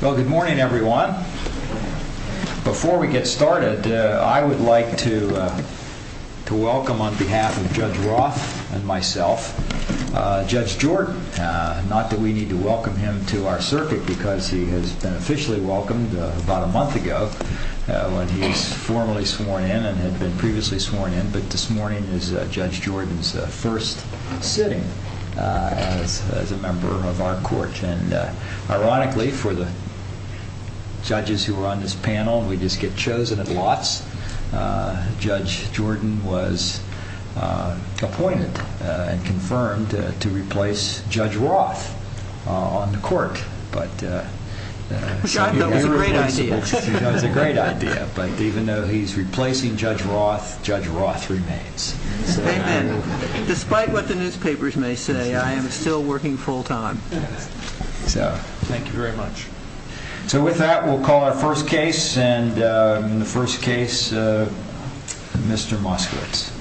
Good morning everyone. Before we get started, I would like to welcome on behalf of Judge Roth and myself, Judge Jordan. Not that we need to welcome him to our circuit because he has been officially welcomed about a month ago when he was formally sworn in and had been previously sworn in. But this morning is Judge Jordan's first sitting as a member of our court. Ironically, for the judges who are on this panel, we just get chosen at lots. Judge Jordan was appointed and confirmed to replace Judge Roth on the court. That was a great idea. Even though he is replacing Judge Roth, Judge Roth remains. Despite what the newspapers may say, I am still working full time. Thank you very much. With that, we will call our first case. In the first case, Mr. Moskowitz.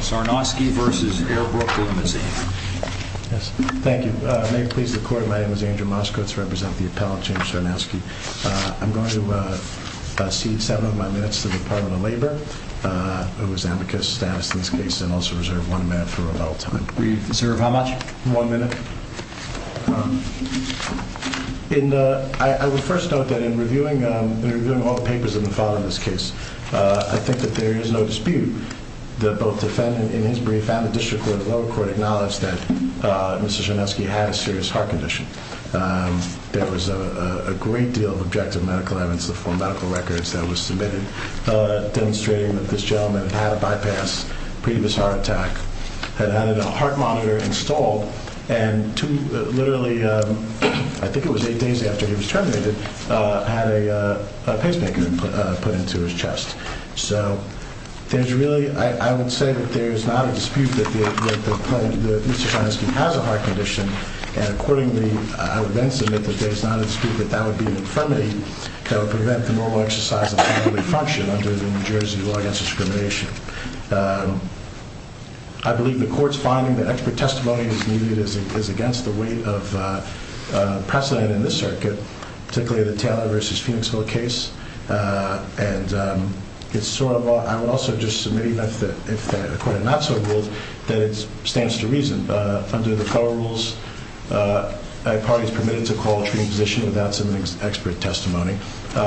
Sarnowski v. Air Brooke Good morning. Thank you. May it please the court, my name is Andrew Moskowitz. I represent the appellate, James Sarnowski. I am going to cede seven of my minutes to the Department of Labor, who is amicus status in this case, and also reserve one minute for rebuttal time. I would first note that in reviewing all the papers in the file in this case, I think that there is no dispute that both the defendant in his brief and the district court and the lower court acknowledge that Mr. Sarnowski had a serious heart condition. There was a great deal of objective medical evidence from medical records that was submitted demonstrating that this gentleman had a bypassed previous heart attack, had had a heart monitor installed, and literally, I think it was eight days after he was terminated, had a pacemaker put into his chest. I would say that there is not a dispute that Mr. Sarnowski has a heart condition, and accordingly, I would then submit that there is not a dispute that that would be an infirmity that would prevent the normal exercise of family function under the New Jersey law against discrimination. I believe the court's finding that expert testimony is needed is against the weight of precedent in this circuit, particularly the Taylor v. Phoenixville case, and I would also just submit, if the court had not so ruled, that it stands to reason that under the federal rules, a party is permitted to call a treating position without submitting expert testimony. Can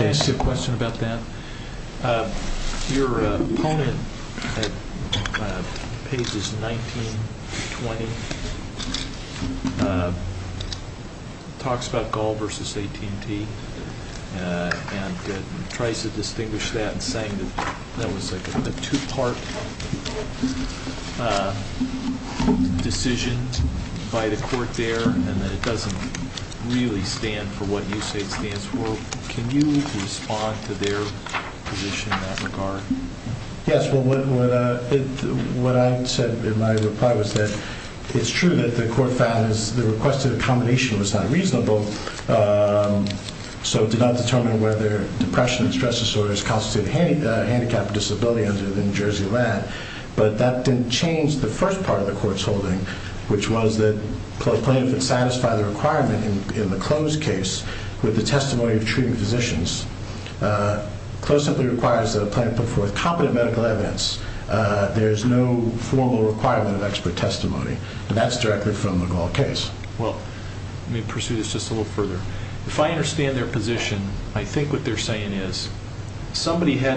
I ask you a question about that? Your opponent at pages 19 and 20 talks about Gall v. AT&T and tries to distinguish that in saying that that was a two-part decision by the court there and that it doesn't really stand for what you say it stands for. Can you respond to their position in that regard? Well, let me pursue this just a little further. If I understand their position, I think what they're saying is somebody had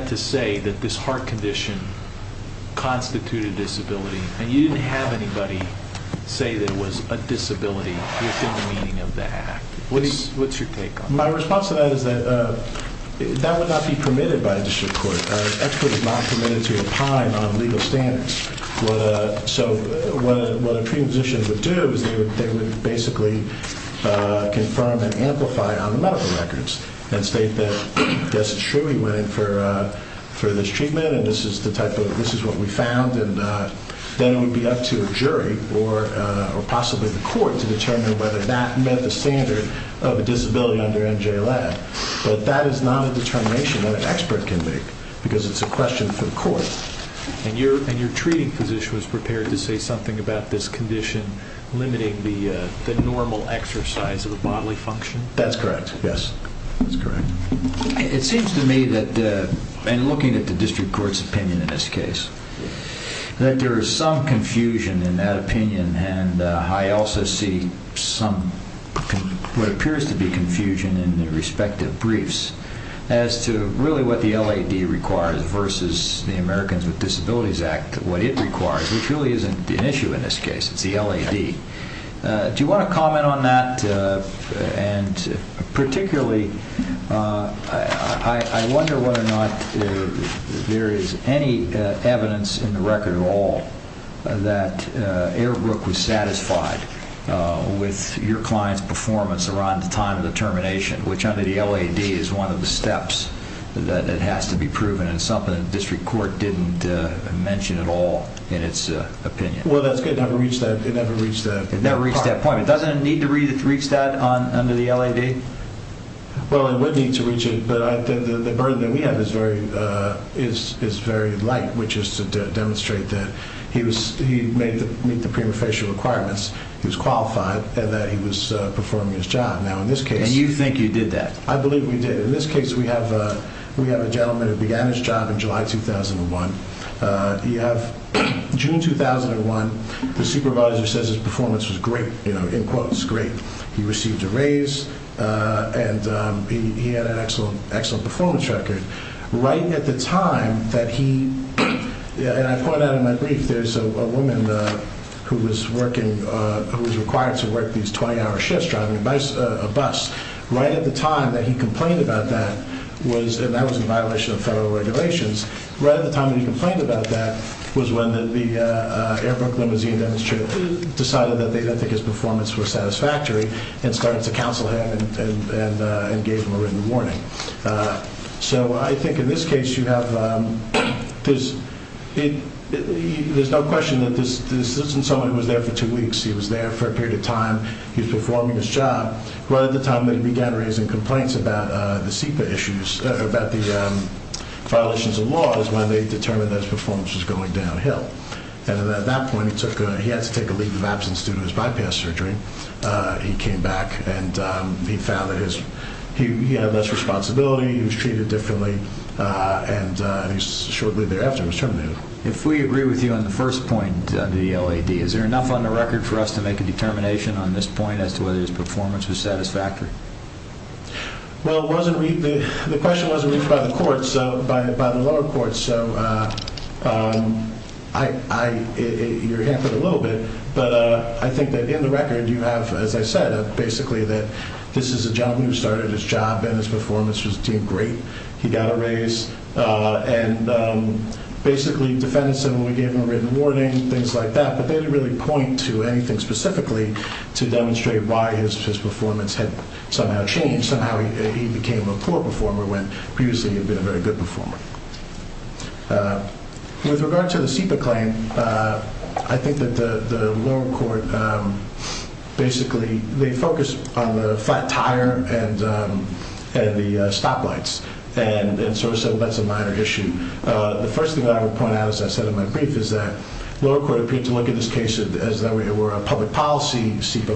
to say that this heart condition constituted disability, and you didn't have anybody say that it was a disability within the meaning of the act. What's your take on that? My response to that is that that would not be permitted by a district court. Expert is not permitted to opine on legal standards. So what a treating position would do is they would basically confirm and amplify on the medical records and state that, yes, it's true, he went in for this treatment and this is what we found. Then it would be up to a jury or possibly the court to determine whether that met the standard of a disability under NJLAB. But that is not a determination that an expert can make because it's a question for the court. And your treating physician was prepared to say something about this condition limiting the normal exercise of a bodily function? That's correct. Yes, that's correct. It seems to me that, and looking at the district court's opinion in this case, that there is some confusion in that opinion. And I also see some what appears to be confusion in the respective briefs as to really what the LAD requires versus the Americans with Disabilities Act, what it requires, which really isn't an issue in this case. It's the LAD. Do you want to comment on that? And particularly, I wonder whether or not there is any evidence in the record at all that Eric Brooke was satisfied with your client's performance around the time of the termination, which under the LAD is one of the steps that has to be proven and something the district court didn't mention at all in its opinion. Well, that's good. It never reached that part. It doesn't need to reach that under the LAD? Well, it would need to reach it, but the burden that we have is very light, which is to demonstrate that he met the prima facie requirements. He was qualified and that he was performing his job. And you think you did that? I believe we did. In this case, we have a gentleman who began his job in July 2001. You have June 2001. The supervisor says his performance was great, in quotes, great. He received a raise and he had an excellent performance record. Right at the time that he, and I point out in my brief, there's a woman who was required to work these 20-hour shifts driving a bus. Right at the time that he complained about that, and that was in violation of federal regulations, right at the time that he complained about that was when the Airbrook limousine demonstrator decided that I think his performance was satisfactory and started to counsel him and gave him a written warning. So I think in this case you have, there's no question that this isn't someone who was there for two weeks. He was there for a period of time. He was performing his job. The time that he began raising complaints about the SEPA issues, about the violations of law, is when they determined that his performance was going downhill. And at that point he took, he had to take a leave of absence due to his bypass surgery. He came back and he found that his, he had less responsibility, he was treated differently, and he shortly thereafter was terminated. If we agree with you on the first point, the LAD, is there enough on the record for us to make a determination on this point as to whether his performance was satisfactory? Well, it wasn't, the question wasn't reached by the courts, by the lower courts. So I, you're hampered a little bit, but I think that in the record you have, as I said, basically that this is a gentleman who started his job and his performance was doing great. He got a raise and basically defended him when we gave him a written warning, things like that. But they didn't really point to anything specifically to demonstrate why his performance had somehow changed. Somehow he became a poor performer when previously he had been a very good performer. With regard to the SEPA claim, I think that the lower court basically, they focused on the flat tire and the stoplights, and so that's a minor issue. The first thing that I would point out, as I said in my brief, is that the lower court appeared to look at this case as though it were a public policy SEPA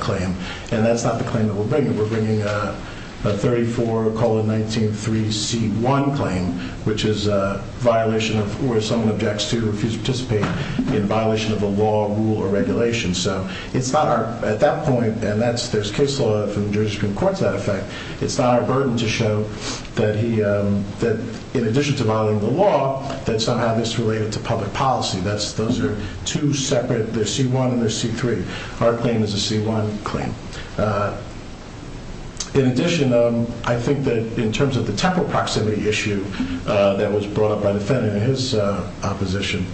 claim, and that's not the claim that we're bringing. We're bringing a 34-19-3-C-1 claim, which is a violation of, where someone objects to or refuses to participate in violation of a law, rule, or regulation. So it's not our, at that point, and there's case law from the Jersey Supreme Court to that effect, it's not our burden to show that he, in addition to violating the law, that somehow this is related to public policy. Those are two separate, they're C-1 and they're C-3. Our claim is a C-1 claim. In addition, I think that in terms of the temporal proximity issue that was brought up by the defendant in his opposition,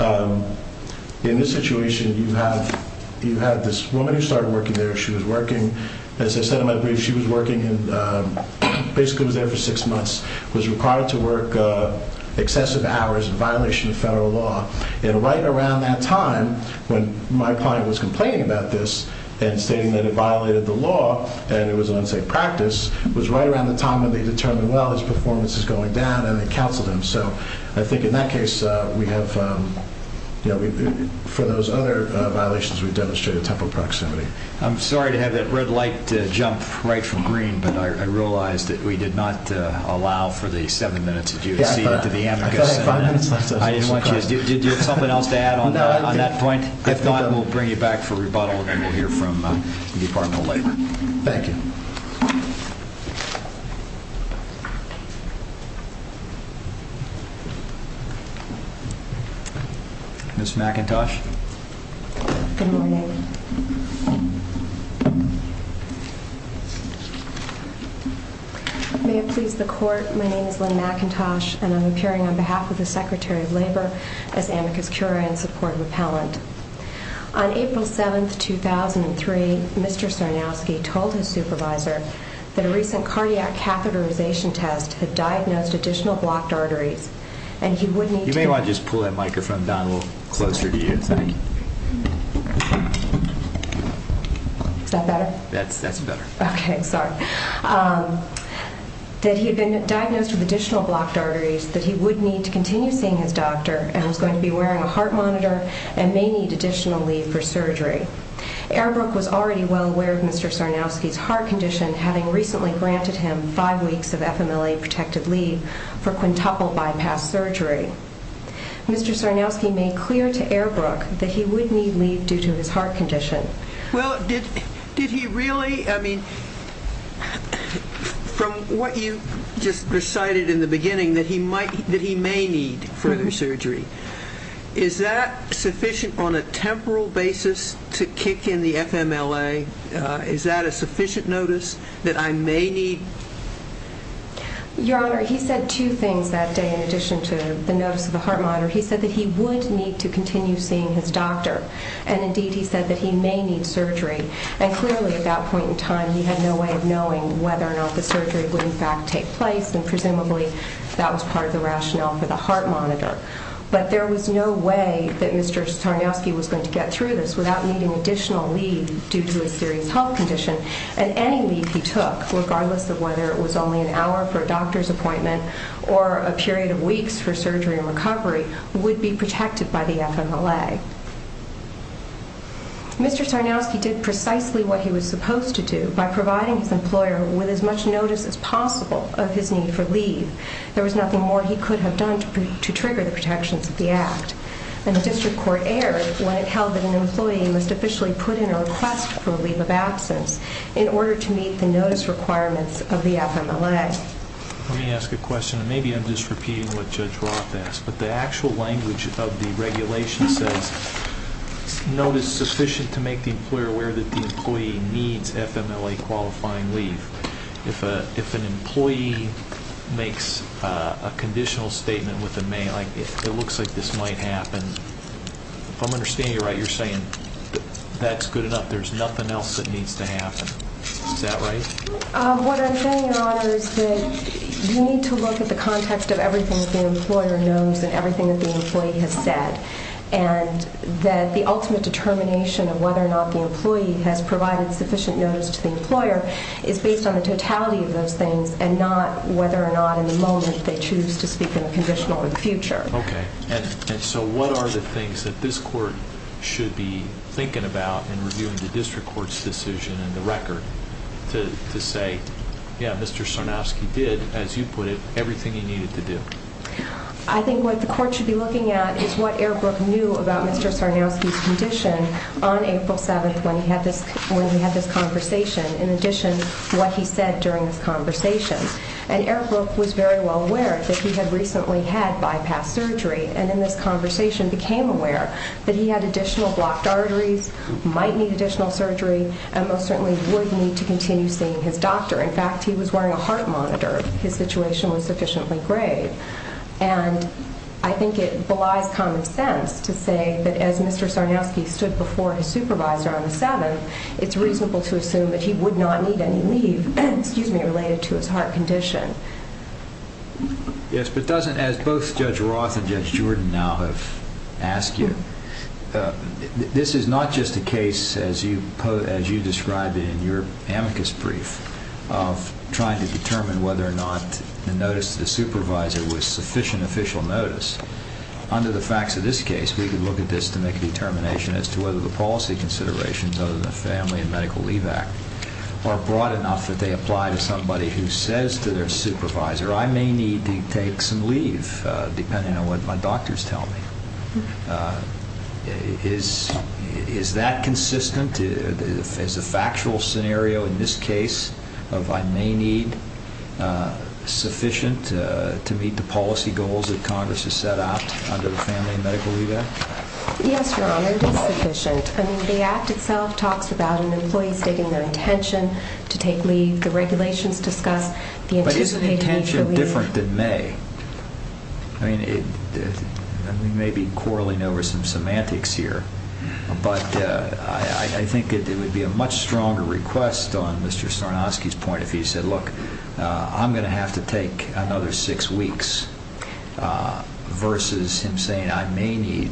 in this situation you have this woman who started working there, she was working, as I said in my brief, she was working and basically was there for six months, was required to work excessive hours in violation of federal law. And right around that time, when my client was complaining about this and stating that it violated the law and it was an unsafe practice, was right around the time when they determined, well, his performance is going down, and they counseled him. So I think in that case, we have, for those other violations, we've demonstrated temporal proximity. I'm sorry to have that red light jump right from green, but I realize that we did not allow for the seven minutes that you would see into the amicus. Do you have something else to add on that point? If not, we'll bring you back for rebuttal and we'll hear from the Department of Labor. Thank you. Ms. McIntosh? Good morning. Good morning. May it please the Court, my name is Lynn McIntosh, and I'm appearing on behalf of the Secretary of Labor as amicus curiae and support repellent. On April 7, 2003, Mr. Cernowski told his supervisor that a recent cardiac catheterization test had diagnosed additional blocked arteries, and he would need to... You may want to just pull that microphone down a little closer to you. Thank you. Is that better? That's better. Okay, sorry. That he had been diagnosed with additional blocked arteries that he would need to continue seeing his doctor and was going to be wearing a heart monitor and may need additional leave for surgery. Airbrook was already well aware of Mr. Cernowski's heart condition, having recently granted him five weeks of FMLA-protected leave for quintuple bypass surgery. Mr. Cernowski made clear to Airbrook that he would need leave due to his heart condition. Now, did he really? I mean, from what you just recited in the beginning, that he may need further surgery, is that sufficient on a temporal basis to kick in the FMLA? Is that a sufficient notice that I may need... Your Honor, he said two things that day in addition to the notice of the heart monitor. He said that he would need to continue seeing his doctor, and indeed he said that he may need surgery. And clearly at that point in time, he had no way of knowing whether or not the surgery would in fact take place, and presumably that was part of the rationale for the heart monitor. But there was no way that Mr. Cernowski was going to get through this without needing additional leave due to a serious health condition. And any leave he took, regardless of whether it was only an hour for a doctor's appointment or a period of weeks for surgery and recovery, would be protected by the FMLA. Mr. Cernowski did precisely what he was supposed to do by providing his employer with as much notice as possible of his need for leave. There was nothing more he could have done to trigger the protections of the Act. And the District Court erred when it held that an employee must officially put in a request for a leave of absence in order to meet the notice requirements of the FMLA. Let me ask a question, and maybe I'm just repeating what Judge Roth asked, but the legal language of the regulation says notice sufficient to make the employer aware that the employee needs FMLA-qualifying leave. If an employee makes a conditional statement with a mail, like, it looks like this might happen, if I'm understanding you right, you're saying that's good enough, there's nothing else that needs to happen. Is that right? What I'm saying, Your Honor, is that you need to look at the context of what the employee has said, and that the ultimate determination of whether or not the employee has provided sufficient notice to the employer is based on the totality of those things, and not whether or not in the moment they choose to speak in a conditional in the future. Okay. And so what are the things that this Court should be thinking about in reviewing the District Court's decision and the record to say, yeah, Mr. Sarnofsky did, as you put it, everything he needed to do? I think what the Court should be looking at is what Airbrook knew about Mr. Sarnofsky's condition on April 7th, when he had this conversation, in addition to what he said during this conversation. And Airbrook was very well aware that he had recently had bypass surgery, and in this conversation became aware that he had additional blocked arteries, might need additional surgery, and most certainly would need to continue seeing his doctor. In fact, he was wearing a heart monitor. And I think it belies common sense to say that as Mr. Sarnofsky stood before his supervisor on the 7th, it's reasonable to assume that he would not need any leave related to his heart condition. Yes, but doesn't, as both Judge Roth and Judge Jordan now have asked you, this is not just a case, as you described it in your amicus brief, of trying to determine whether or not the notice is a sufficient official notice. Under the facts of this case, we could look at this to make a determination as to whether the policy considerations of the Family and Medical Leave Act are broad enough that they apply to somebody who says to their supervisor, I may need to take some leave, depending on what my doctors tell me. Is that consistent? Is the factual scenario in this case of I may need sufficient to meet the policy goals that Congress has set out under the Family and Medical Leave Act? Yes, Your Honor, it is sufficient. The Act itself talks about an employee stating their intention to take leave. The regulations discuss the anticipated need for leave. But is the intention different than may? We may be quarreling over some semantics here, but I think it would be a much stronger request for another six weeks versus him saying I may need,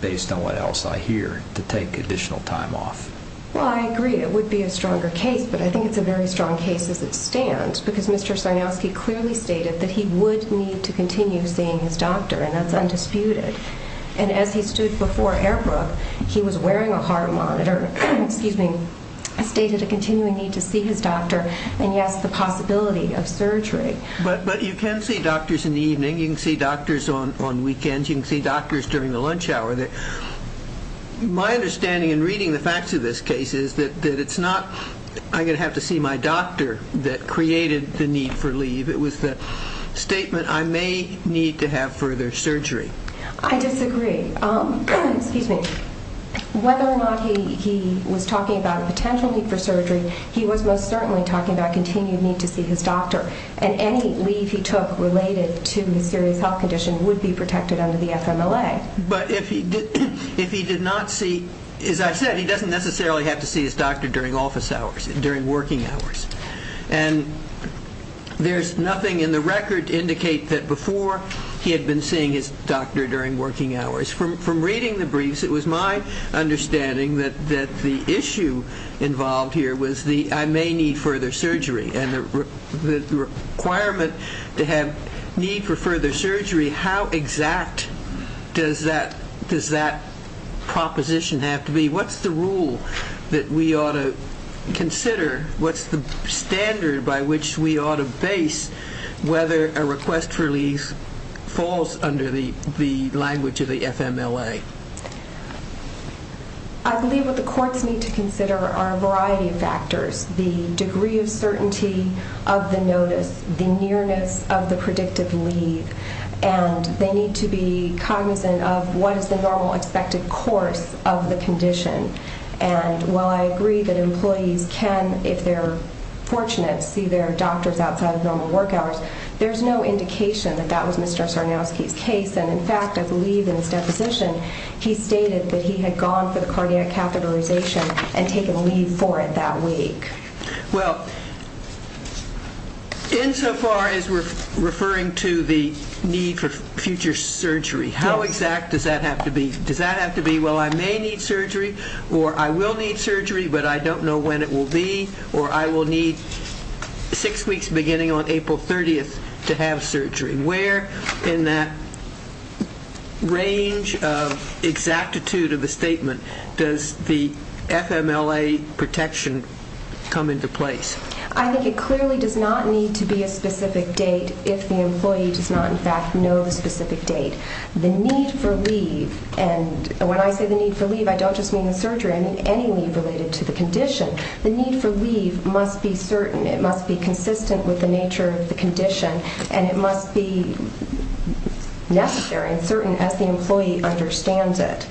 based on what else I hear, to take additional time off. Well, I agree. It would be a stronger case, but I think it's a very strong case as it stands because Mr. Sarnowski clearly stated that he would need to continue seeing his doctor, and that's undisputed. And as he stood before Airbrook, he was wearing a heart monitor, stated a continuing need to see his doctor. You can see doctors in the evening. You can see doctors on weekends. You can see doctors during the lunch hour. My understanding in reading the facts of this case is that it's not I'm going to have to see my doctor that created the need for leave. It was the statement I may need to have further surgery. I disagree. Excuse me. Whether or not he was talking about a potential need for surgery, I don't think related to the serious health condition would be protected under the FMLA. But if he did not see, as I've said, he doesn't necessarily have to see his doctor during office hours, during working hours. And there's nothing in the record to indicate that before he had been seeing his doctor during working hours. From reading the briefs, it was my understanding that the issue involved here was a need for further surgery. How exact does that proposition have to be? What's the rule that we ought to consider? What's the standard by which we ought to base whether a request for leave falls under the language of the FMLA? I believe what the courts need to consider are a variety of factors. The degree of certainty of the notice, the nearness of the predictive leave, and they need to be cognizant of what is the normal expected course of the condition. And while I agree that employees can, if they're fortunate, see their doctors outside of normal work hours, there's no indication that that was Mr. Sarnowski's case. And in fact, I believe in his deposition, he stated that he had gone for the cardiac catheterization and taken leave for it that week. Well, insofar as we're referring to the need for future surgery, how exact does that have to be? Does that have to be, well, I may need surgery, or I will need surgery, but I don't know when it will be, or I will need six weeks beginning on April 30th to have surgery? Where in that range of exactitude of the statement does the FMLA protection come into place? I think it clearly does not need to be a specific date if the employee does not, in fact, know the specific date. The need for leave, and when I say the need for leave, I don't just mean the surgery. I mean any leave related to the condition. The need for leave must be certain. It must be consistent with the nature of the condition, and it must be necessary for the employee to understand it.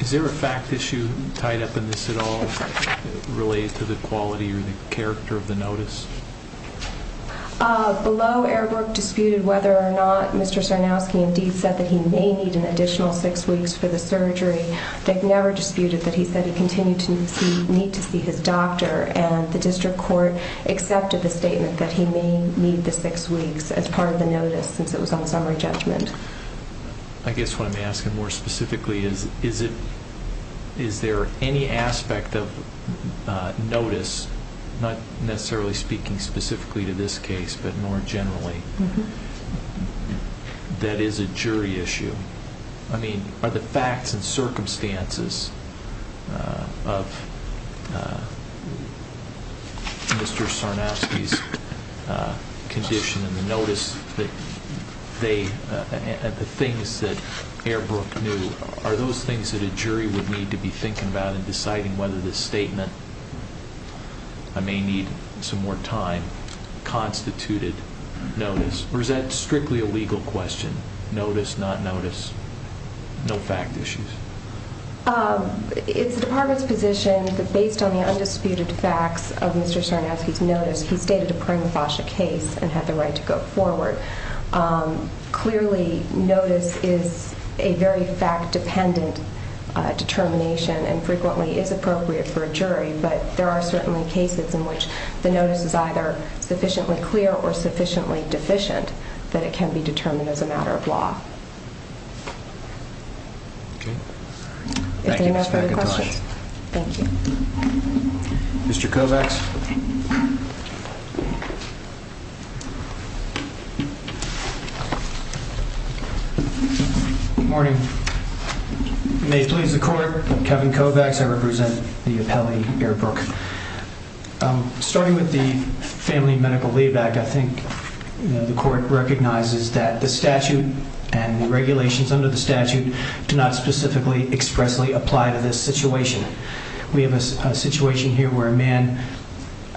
Is there a fact issue tied up in this at all related to the quality or the character of the notice? Below, Eric Brook disputed whether or not Mr. Sarnowski indeed said that he may need an additional six weeks for the surgery. They never disputed that he said he continued to need to see his doctor, and the district court accepted the statement that he may need the six weeks as part of the notice since it was on summary judgment. I guess what I'm asking more specifically is is there any aspect of notice, not necessarily speaking specifically to this case, but more generally, that is a jury issue? I mean, are the facts and circumstances of Mr. Sarnowski's condition and the notice and the things that Eric Brook knew, are those things that a jury would need to be thinking about in deciding whether this statement I may need some more time constituted notice? Or is that strictly a legal question, notice, not notice, no fact issues? It's the department's position that based on the undisputed facts of Mr. Sarnowski's notice, he stated a permafascia case to go forward. Clearly notice is a very fact-dependent determination and frequently is appropriate for a jury, but there are certainly cases in which the notice is either sufficiently clear or sufficiently deficient that it can be determined as a matter of law. Okay. Thank you, Ms. McIntosh. Thank you. Mr. Kovacs. Good morning. May it please the court, Kevin Kovacs, I represent the appellee, Eric Brook. Starting with the family medical lead back, I think the court recognizes that the statute and the regulations under the statute do not specifically expressly give us a situation here where a man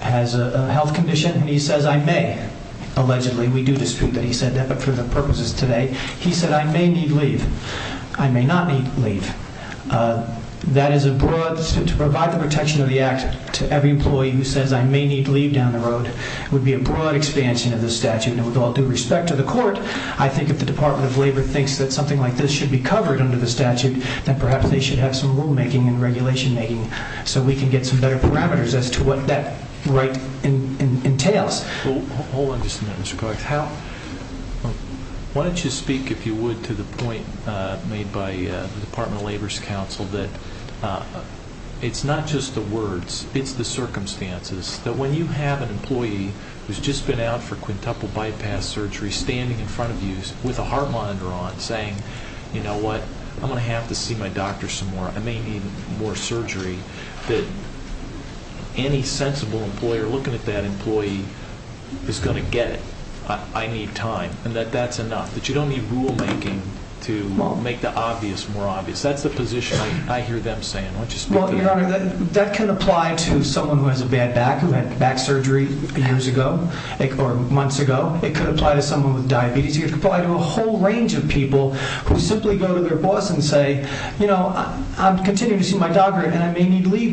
has a health condition and he says, I may, allegedly, we do dispute that he said that, but for the purposes today, he said I may need leave. I may not need leave. That is a broad, to provide the protection of the act to every employee who says I may need leave down the road would be a broad expansion of the statute. And with all due respect to the court, I think if the Department of Labor thinks that something like this is appropriate, so we can get some better parameters as to what that right entails. Hold on just a minute, Mr. Kovacs. Why don't you speak, if you would, to the point made by the Department of Labor's counsel that it's not just the words, it's the circumstances, that when you have an employee who's just been out for quintuple bypass surgery standing in front of you with a heart monitor on and you think that any sensible employer looking at that employee is going to get it, I need time, and that that's enough, that you don't need rulemaking to make the obvious more obvious. That's the position I hear them saying. Why don't you speak to that? Well, Your Honor, that can apply to someone who has a bad back who had back surgery years ago or months ago. I don't know if you've heard and she was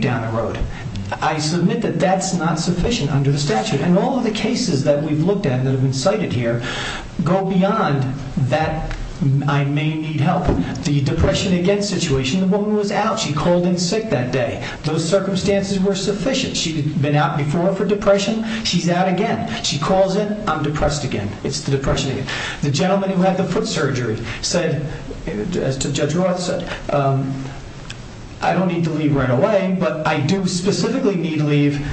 on the road. I submit that that's not sufficient under the statute, and all of the cases that we've looked at that have been cited here go beyond that I may need help. The depression again situation, the woman was out, she called in sick that day. Those circumstances were sufficient. She'd been out before for depression, she's out again. If I do specifically need leave,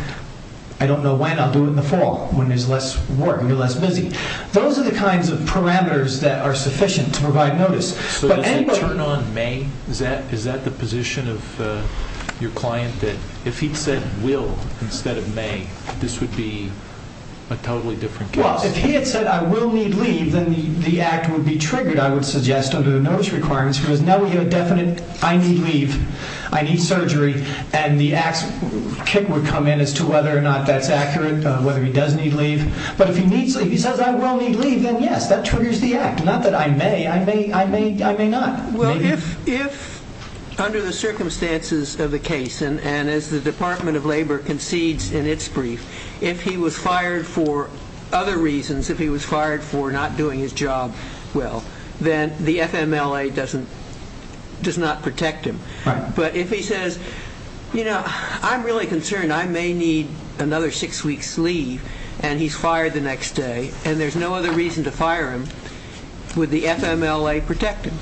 I don't know when, I'll do it in the fall when there's less work, when you're less busy. Those are the kinds of parameters that are sufficient to provide notice. So does it turn on may? Is that the position of your client that if he'd said will instead of may, this would be a totally different case? Well, if he had said I will need leave, then the act would be triggered and a tax kick would come in as to whether or not that's accurate, whether he does need leave. But if he says I will need leave, then yes, that triggers the act. Not that I may, I may not. Well, if under the circumstances of the case and as the Department of Labor concedes in its brief, if he was fired for other reasons, if he was fired for not doing his job well, then the FMLA does not protect him. But if he says, I'm really concerned, I may need another six weeks leave and he's fired the next day and there's no other reason to fire him, would the FMLA protect him?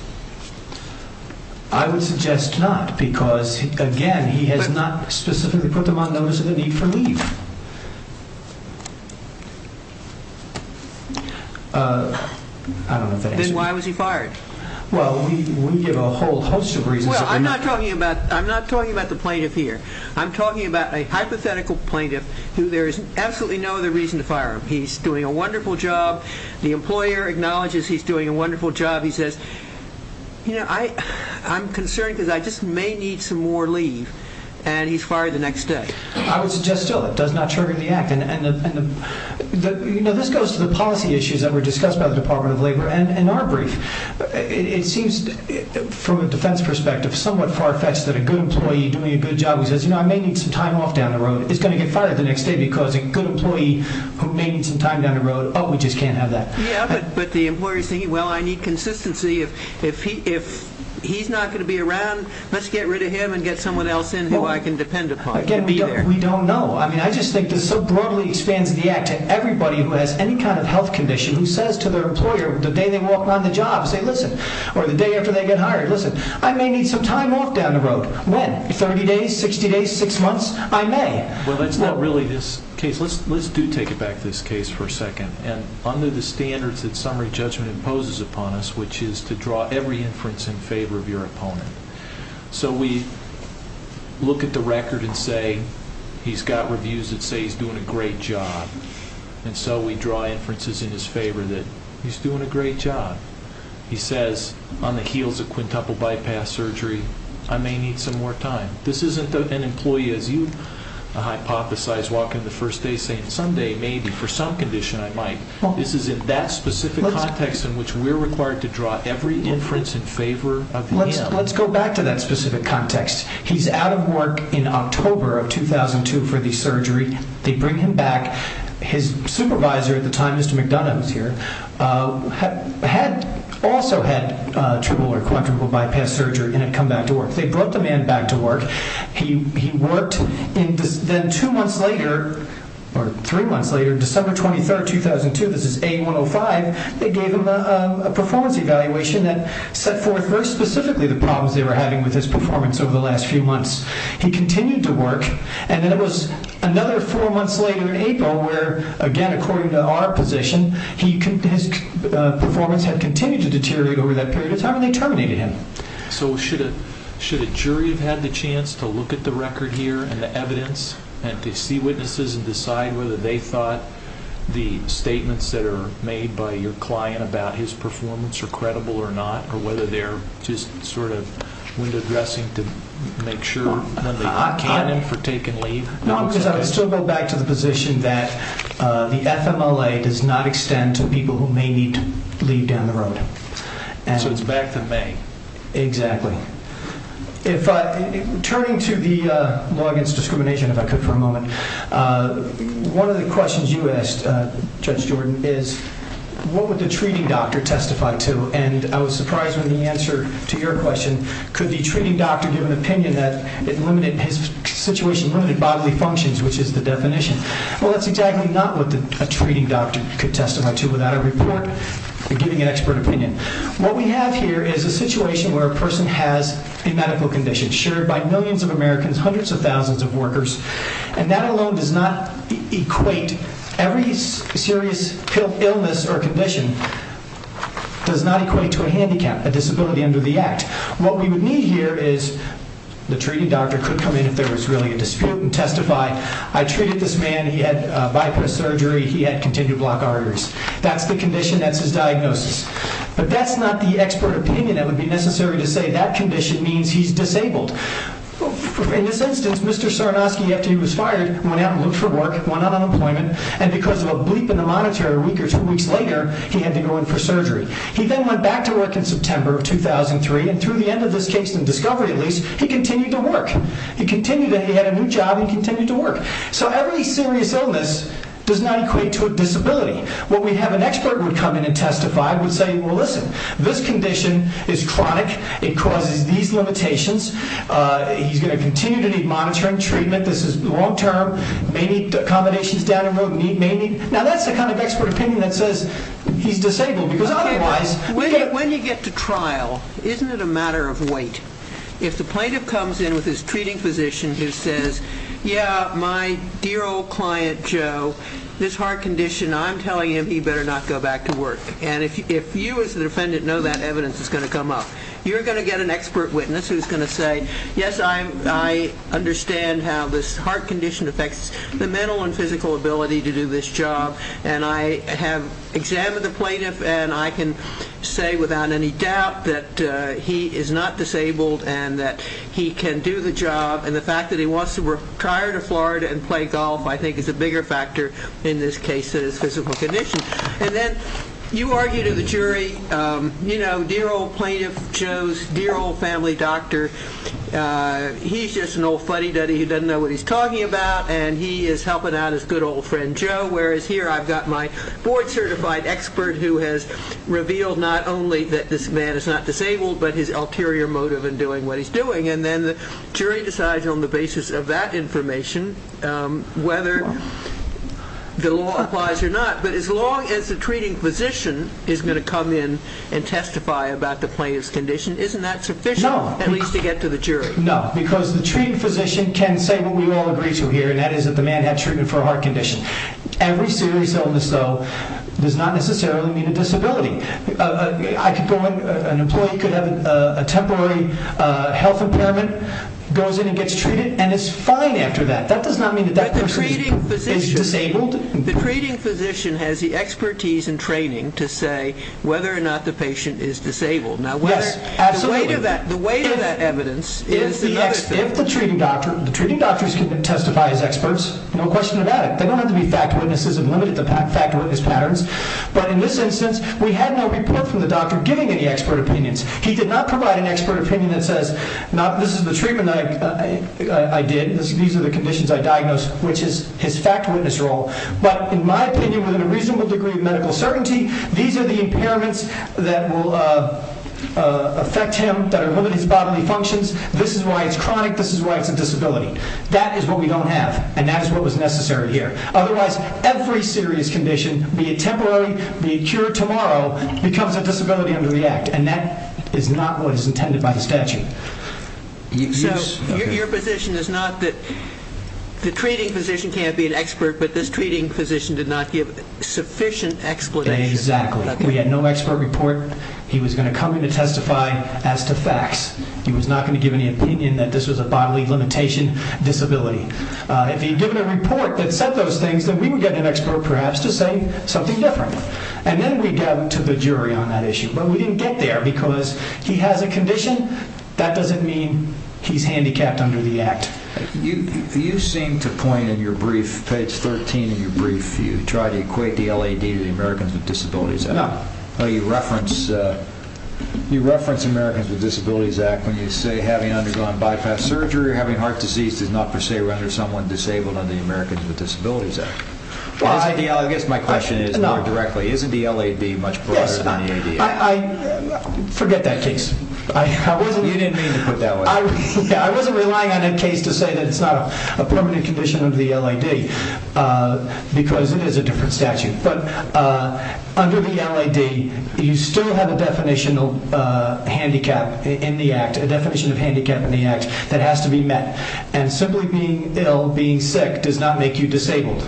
I would suggest not because, again, he has not specifically put them on notice of the need for leave. I don't know if that answers your question. Then why was he fired? Well, we give a whole host of reasons. Well, I'm not talking about a hypothetical plaintiff who there is absolutely no other reason to fire him. He's doing a wonderful job. The employer acknowledges he's doing a wonderful job. He says, I'm concerned because I just may need some more leave and he's fired the next day. I would suggest still it does not trigger the act. This goes to the policy issues that were discussed by the Department of Labor in our brief. I may need some time off down the road. He's going to get fired the next day because a good employee who may need some time down the road, oh, we just can't have that. Yeah, but the employer is thinking, well, I need consistency. If he's not going to be around, let's get rid of him and get someone else in who I can depend upon. Again, we don't know. I just think this so broadly expands the act to everybody who has any kind of health condition that I may need some more time. Once I may. Well, that's not really this case. Let's do take it back to this case for a second. Under the standards that summary judgment imposes upon us, which is to draw every inference in favor of your opponent. We look at the record and say he's got reviews that say he's doing a great job. We draw inferences in his favor that he's doing a great job. He says on the heels of quintuple bypass surgery, as you hypothesized walking the first day saying Sunday, maybe for some condition I might. This is in that specific context in which we're required to draw every inference in favor of him. Let's go back to that specific context. He's out of work in October of 2002 for the surgery. They bring him back. His supervisor at the time, Mr. McDonough, who's here, also had triple or quadruple bypass surgery and had come back to work. They brought the man back to work. Then two months later, or three months later, December 23, 2002, this is A105, they gave him a performance evaluation that set forth very specifically the problems they were having with his performance over the last few months. He continued to work. Then it was another four months later according to our position, his performance had continued to deteriorate over that period of time and we're still waiting on the evidence and to see witnesses and decide whether they thought the statements that are made by your client about his performance are credible or not or whether they're just sort of window dressing to make sure when they can for taking leave. I would still go back to the position that the FMLA does not extend to people who may need to leave down the road. So it's back to May. I'm going to go back to discrimination if I could for a moment. One of the questions you asked, Judge Jordan, is what would the treating doctor testify to and I was surprised when the answer to your question could the treating doctor give an opinion that his situation limited bodily functions which is the definition. Well, that's exactly not what a treating doctor could testify to without a report, giving an expert opinion. What we have here is a situation where we have a number of disabled workers and that alone does not equate every serious illness or condition does not equate to a handicap, a disability under the act. What we would need here is the treating doctor could come in if there was really a dispute and testify, I treated this man, he had bypass surgery, he had continued block arteries. That's the condition, that's his diagnosis. He went to the hospital, went out and looked for work, went out on employment and because of a bleep in the monitor a week or two weeks later he had to go in for surgery. He then went back to work in September of 2003 and through the end of this case in discovery at least he continued to work. He had a new job and continued to work. So every serious illness does not equate to a disability. This is a handicap, this is long term, may need accommodations down the road. Now that's the kind of expert opinion that says he's disabled. When you get to trial isn't it a matter of wait? If the plaintiff comes in with his treating physician who says my dear old client Joe this heart condition I'm telling him he better not go back to work. If you as the defendant know that evidence is going to come up you're going to get an expert witness who's going to say yes I understand how this heart condition affects the mental and physical ability to do this job and I have examined the plaintiff and I can say without any doubt that he is not disabled and that he can do the job and the fact that he wants to retire to Florida and play golf I think is a bigger factor in this case than his physical condition. And then you argue to the jury oh plaintiff Joe's dear old family doctor he's just an old fuddy-duddy who doesn't know what he's talking about and he is helping out his good old friend Joe whereas here I've got my board certified expert who has revealed not only that this man is not disabled but his ulterior motive in doing what he's doing and then the jury decides on the basis of that information whether the law applies or not but as long as the treating physician knows that the plaintiff's condition isn't that sufficient at least to get to the jury? No, because the treating physician can say what we all agree to here and that is that the man had treatment for a heart condition. Every serious illness though does not necessarily mean a disability. An employee could have a temporary health impairment goes in and gets treated and is fine after that. That does not mean that that person is disabled. The treating physician can testify as experts no question about it. They don't have to be fact witnesses and limit it to fact witness patterns but in this instance we had no report from the doctor giving any expert opinions. He did not provide an expert opinion that says this is the treatment I did these are the conditions I diagnosed which is his fact witness role but in my opinion with a reasonable degree of medical certainty these are the impairments that will cause the patient affect him that will limit his bodily functions this is why it's chronic this is why it's a disability. That is what we don't have and that is what was necessary here. Otherwise every serious condition be it temporary, be it cured tomorrow becomes a disability under the act and that is not what is intended by the statute. So your position is not that the treating physician can't be an expert but this treating physician did not give sufficient explanation. Exactly. He did not testify as to facts. He was not going to give any opinion that this was a bodily limitation disability. If he had given a report that said those things then we would get an expert perhaps to say something different and then we go to the jury on that issue but we didn't get there because he has a condition that doesn't mean he's handicapped under the act. You seem to point in your brief page 13 in your brief you try to equate the LAD to the Americans with Disabilities Act. You reference the Americans with Disabilities Act when you say having undergone bypass surgery or having heart disease does not per se render someone disabled under the Americans with Disabilities Act. I guess my question is isn't the LAD much broader than the ADA? Forget that case. You didn't mean to put that way. I wasn't relying on that case to say it's not a permanent condition under the LAD because it is a different statute but under the LAD you still have a definition of handicap in the act a definition of handicap in the act that has to be met and simply being ill, being sick does not make you disabled.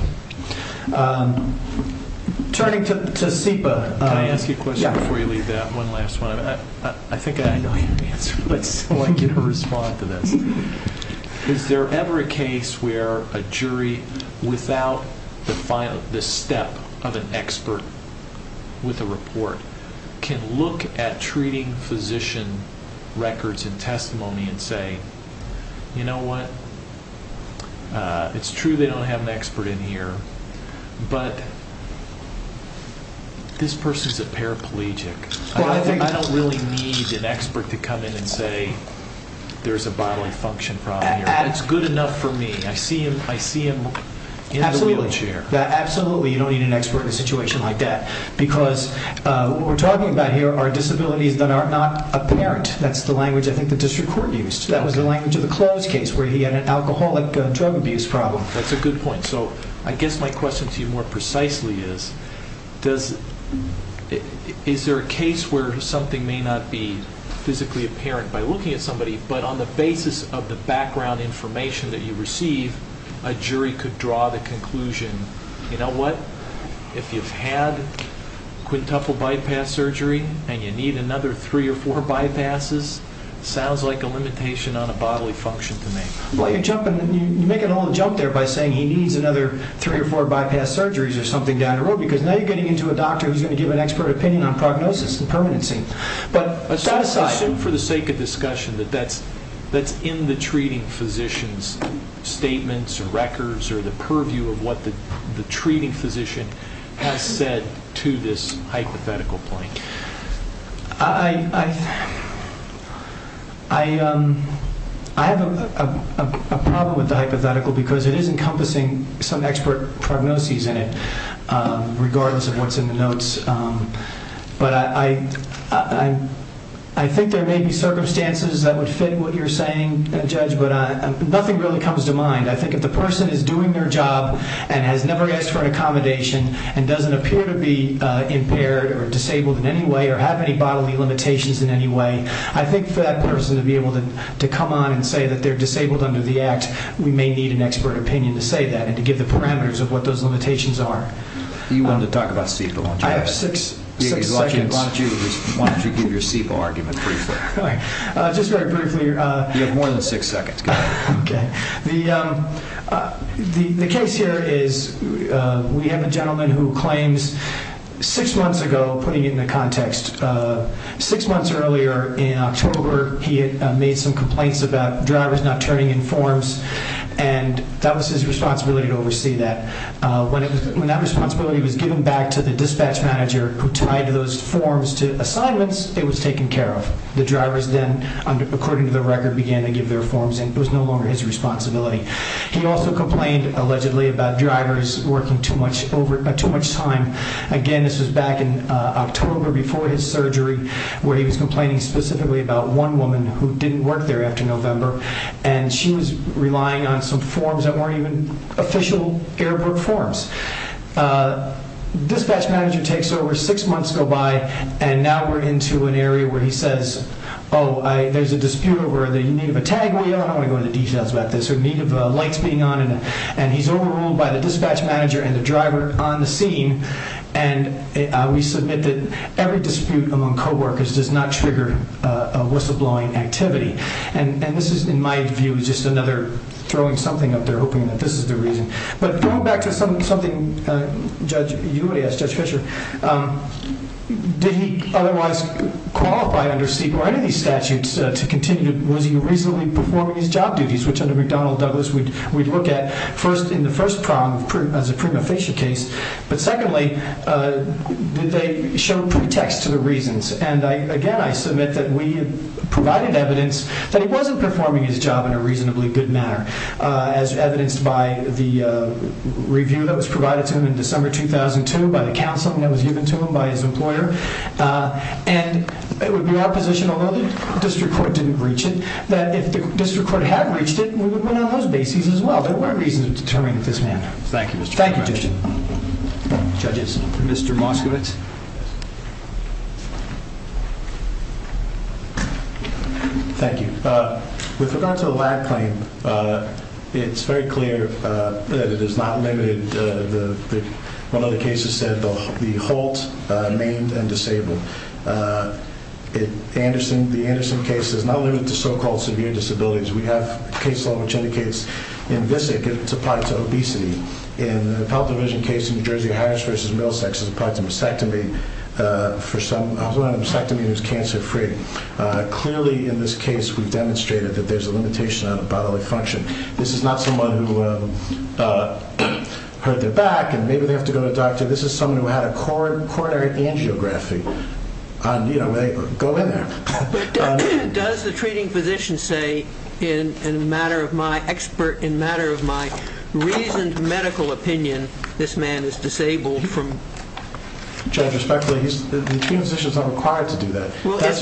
Turning to SIPA Can I ask you a question before you leave that one last one? I think I know your answer but I'd still like you to respond to this. Is there ever a case where a jury without the step of an expert with a report or a physician records and testimony and say you know what it's true they don't have an expert in here but this person is a paraplegic I don't really need an expert to come in and say there's a bodily function problem here it's good enough for me I see him in the wheelchair Absolutely you don't need an expert in a situation like that it's not apparent that's the language I think the district court used that was the language of the Close case where he had an alcoholic drug abuse problem That's a good point so I guess my question to you more precisely is is there a case where something may not be physically apparent by looking at somebody but on the basis of the background information that you receive a jury could draw the conclusion you know what if you've had three or four bypasses sounds like a limitation on a bodily function to me You're making a little jump there by saying he needs another three or four bypass surgeries or something down the road because now you're getting into a doctor who's going to give an expert opinion on prognosis and permanency but set aside Assume for the sake of discussion that that's in the treating physician's statements and records or the purview of what you're saying I have a problem with the hypothetical because it is encompassing some expert prognosis in it regardless of what's in the notes but I think there may be circumstances that would fit what you're saying Judge but nothing really comes to mind I think if the person is doing their job and has never asked for an accommodation and doesn't appear to be impaired or disabled in any way or have any bodily limitations in any way I think for that person to be able to come on and say that they're disabled under the act we may need an expert opinion to say that and to give the parameters of what those limitations are You wanted to talk about SEPA I have six seconds Why don't you give your SEPA argument briefly Just very briefly You have more than six seconds The case here is we have a gentleman who claims six months ago or six months earlier in October he had made some complaints about drivers not turning in forms and that was his responsibility to oversee that When that responsibility was given back to the dispatch manager who tied those forms to assignments it was taken care of The drivers then, according to the record began to give their forms and it was no longer his responsibility He also complained allegedly about drivers working too much time after surgery where he was complaining specifically about one woman who didn't work there after November and she was relying on some forms that weren't even official Airbrook forms Dispatch manager takes over six months go by and now we're into an area where he says there's a dispute over the need of a tag wheel I don't want to go into details about this or need of lights being on and he's overruled by the dispatch manager and the driver on the scene and the dispute among co-workers does not trigger a whistleblowing activity and this is, in my view just another throwing something up there hoping that this is the reason But going back to something you would ask Judge Fischer did he otherwise qualify under CEQA or any of these statutes to continue was he reasonably performing his job duties which under McDonnell Douglas we'd look at first in the first prong as a prima facie case but secondly were there other reasons and again I submit that we provided evidence that he wasn't performing his job in a reasonably good manner as evidenced by the review that was provided to him in December 2002 by the counsel that was given to him by his employer and it would be our position although the district court didn't reach it that if the district court did not reach it then there would be no point in the case to continue. Thank you. With regard to the lab claim it's very clear that it is not limited one of the cases said the Holt Mamed and Disabled The Anderson case is not limited to so-called severe disabilities we have a case law which indicates in VISC it's applied to obesity in the Pelton Division case in New Jersey it's applied to mastectomy for someone with mastectomy who's cancer free clearly in this case we've demonstrated that there's a limitation on bodily function this is not someone who hurt their back and maybe they have to go to a doctor this is someone in my expert in matter of my reasoned medical opinion this man is disabled Judge respectfully the treating physician is not required to do that that's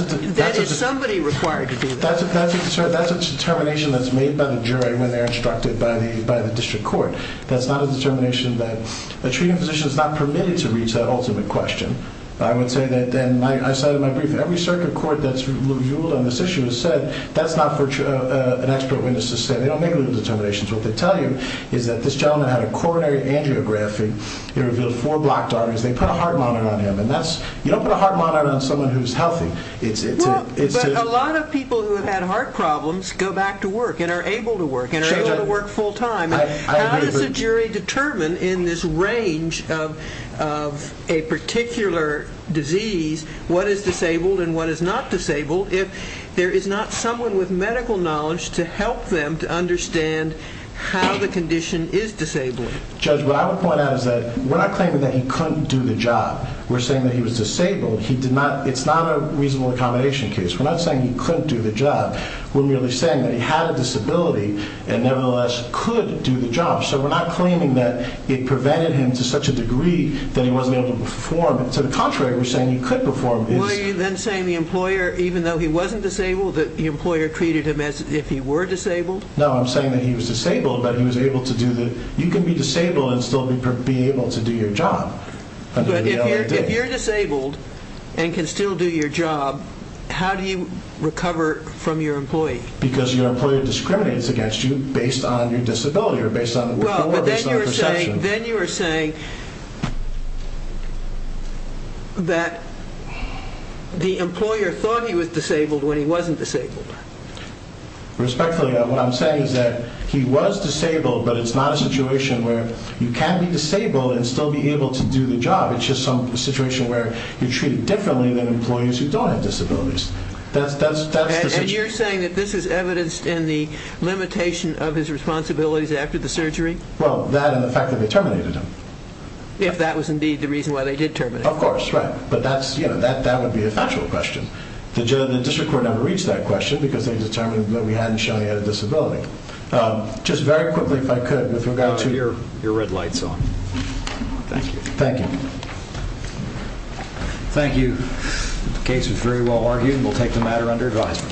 a determination that's made by the jury when they're instructed by the district court that's not a determination the treating physician is not permitted to reach that ultimate question this gentleman had a coronary angiography he revealed four blocked arteries they put a heart monitor on him you don't put a heart monitor on someone who's healthy a lot of people who have had heart problems go back to work and are able to work how does the jury determine in this range of a particular disease what is disabled and what is not disabled to understand how the condition is disabled Judge what I would point out we're not claiming he couldn't do the job we're saying he was disabled it's not a reasonable accommodation case we're not saying he couldn't do the job we're merely saying he had a disability and nevertheless could do the job so we're not claiming that it prevented him to such a degree we're not saying he was disabled but he was able to do the you can be disabled and still be able to do your job if you're disabled and can still do your job how do you recover from your employee because your employer discriminates against you based on your disability then you're saying that the employer thought he was disabled when he wasn't disabled he was disabled but it's not a situation where you can be disabled and still be able to do the job it's just a situation where you're treated differently than employees who don't have disabilities and you're saying that this is evidenced in the limitation of his responsibilities after the surgery well that and the fact that they terminated him if that was indeed just very quickly if I could with regard to your red lights on thank you thank you the case was very well argued we'll take the matter under advisement thank you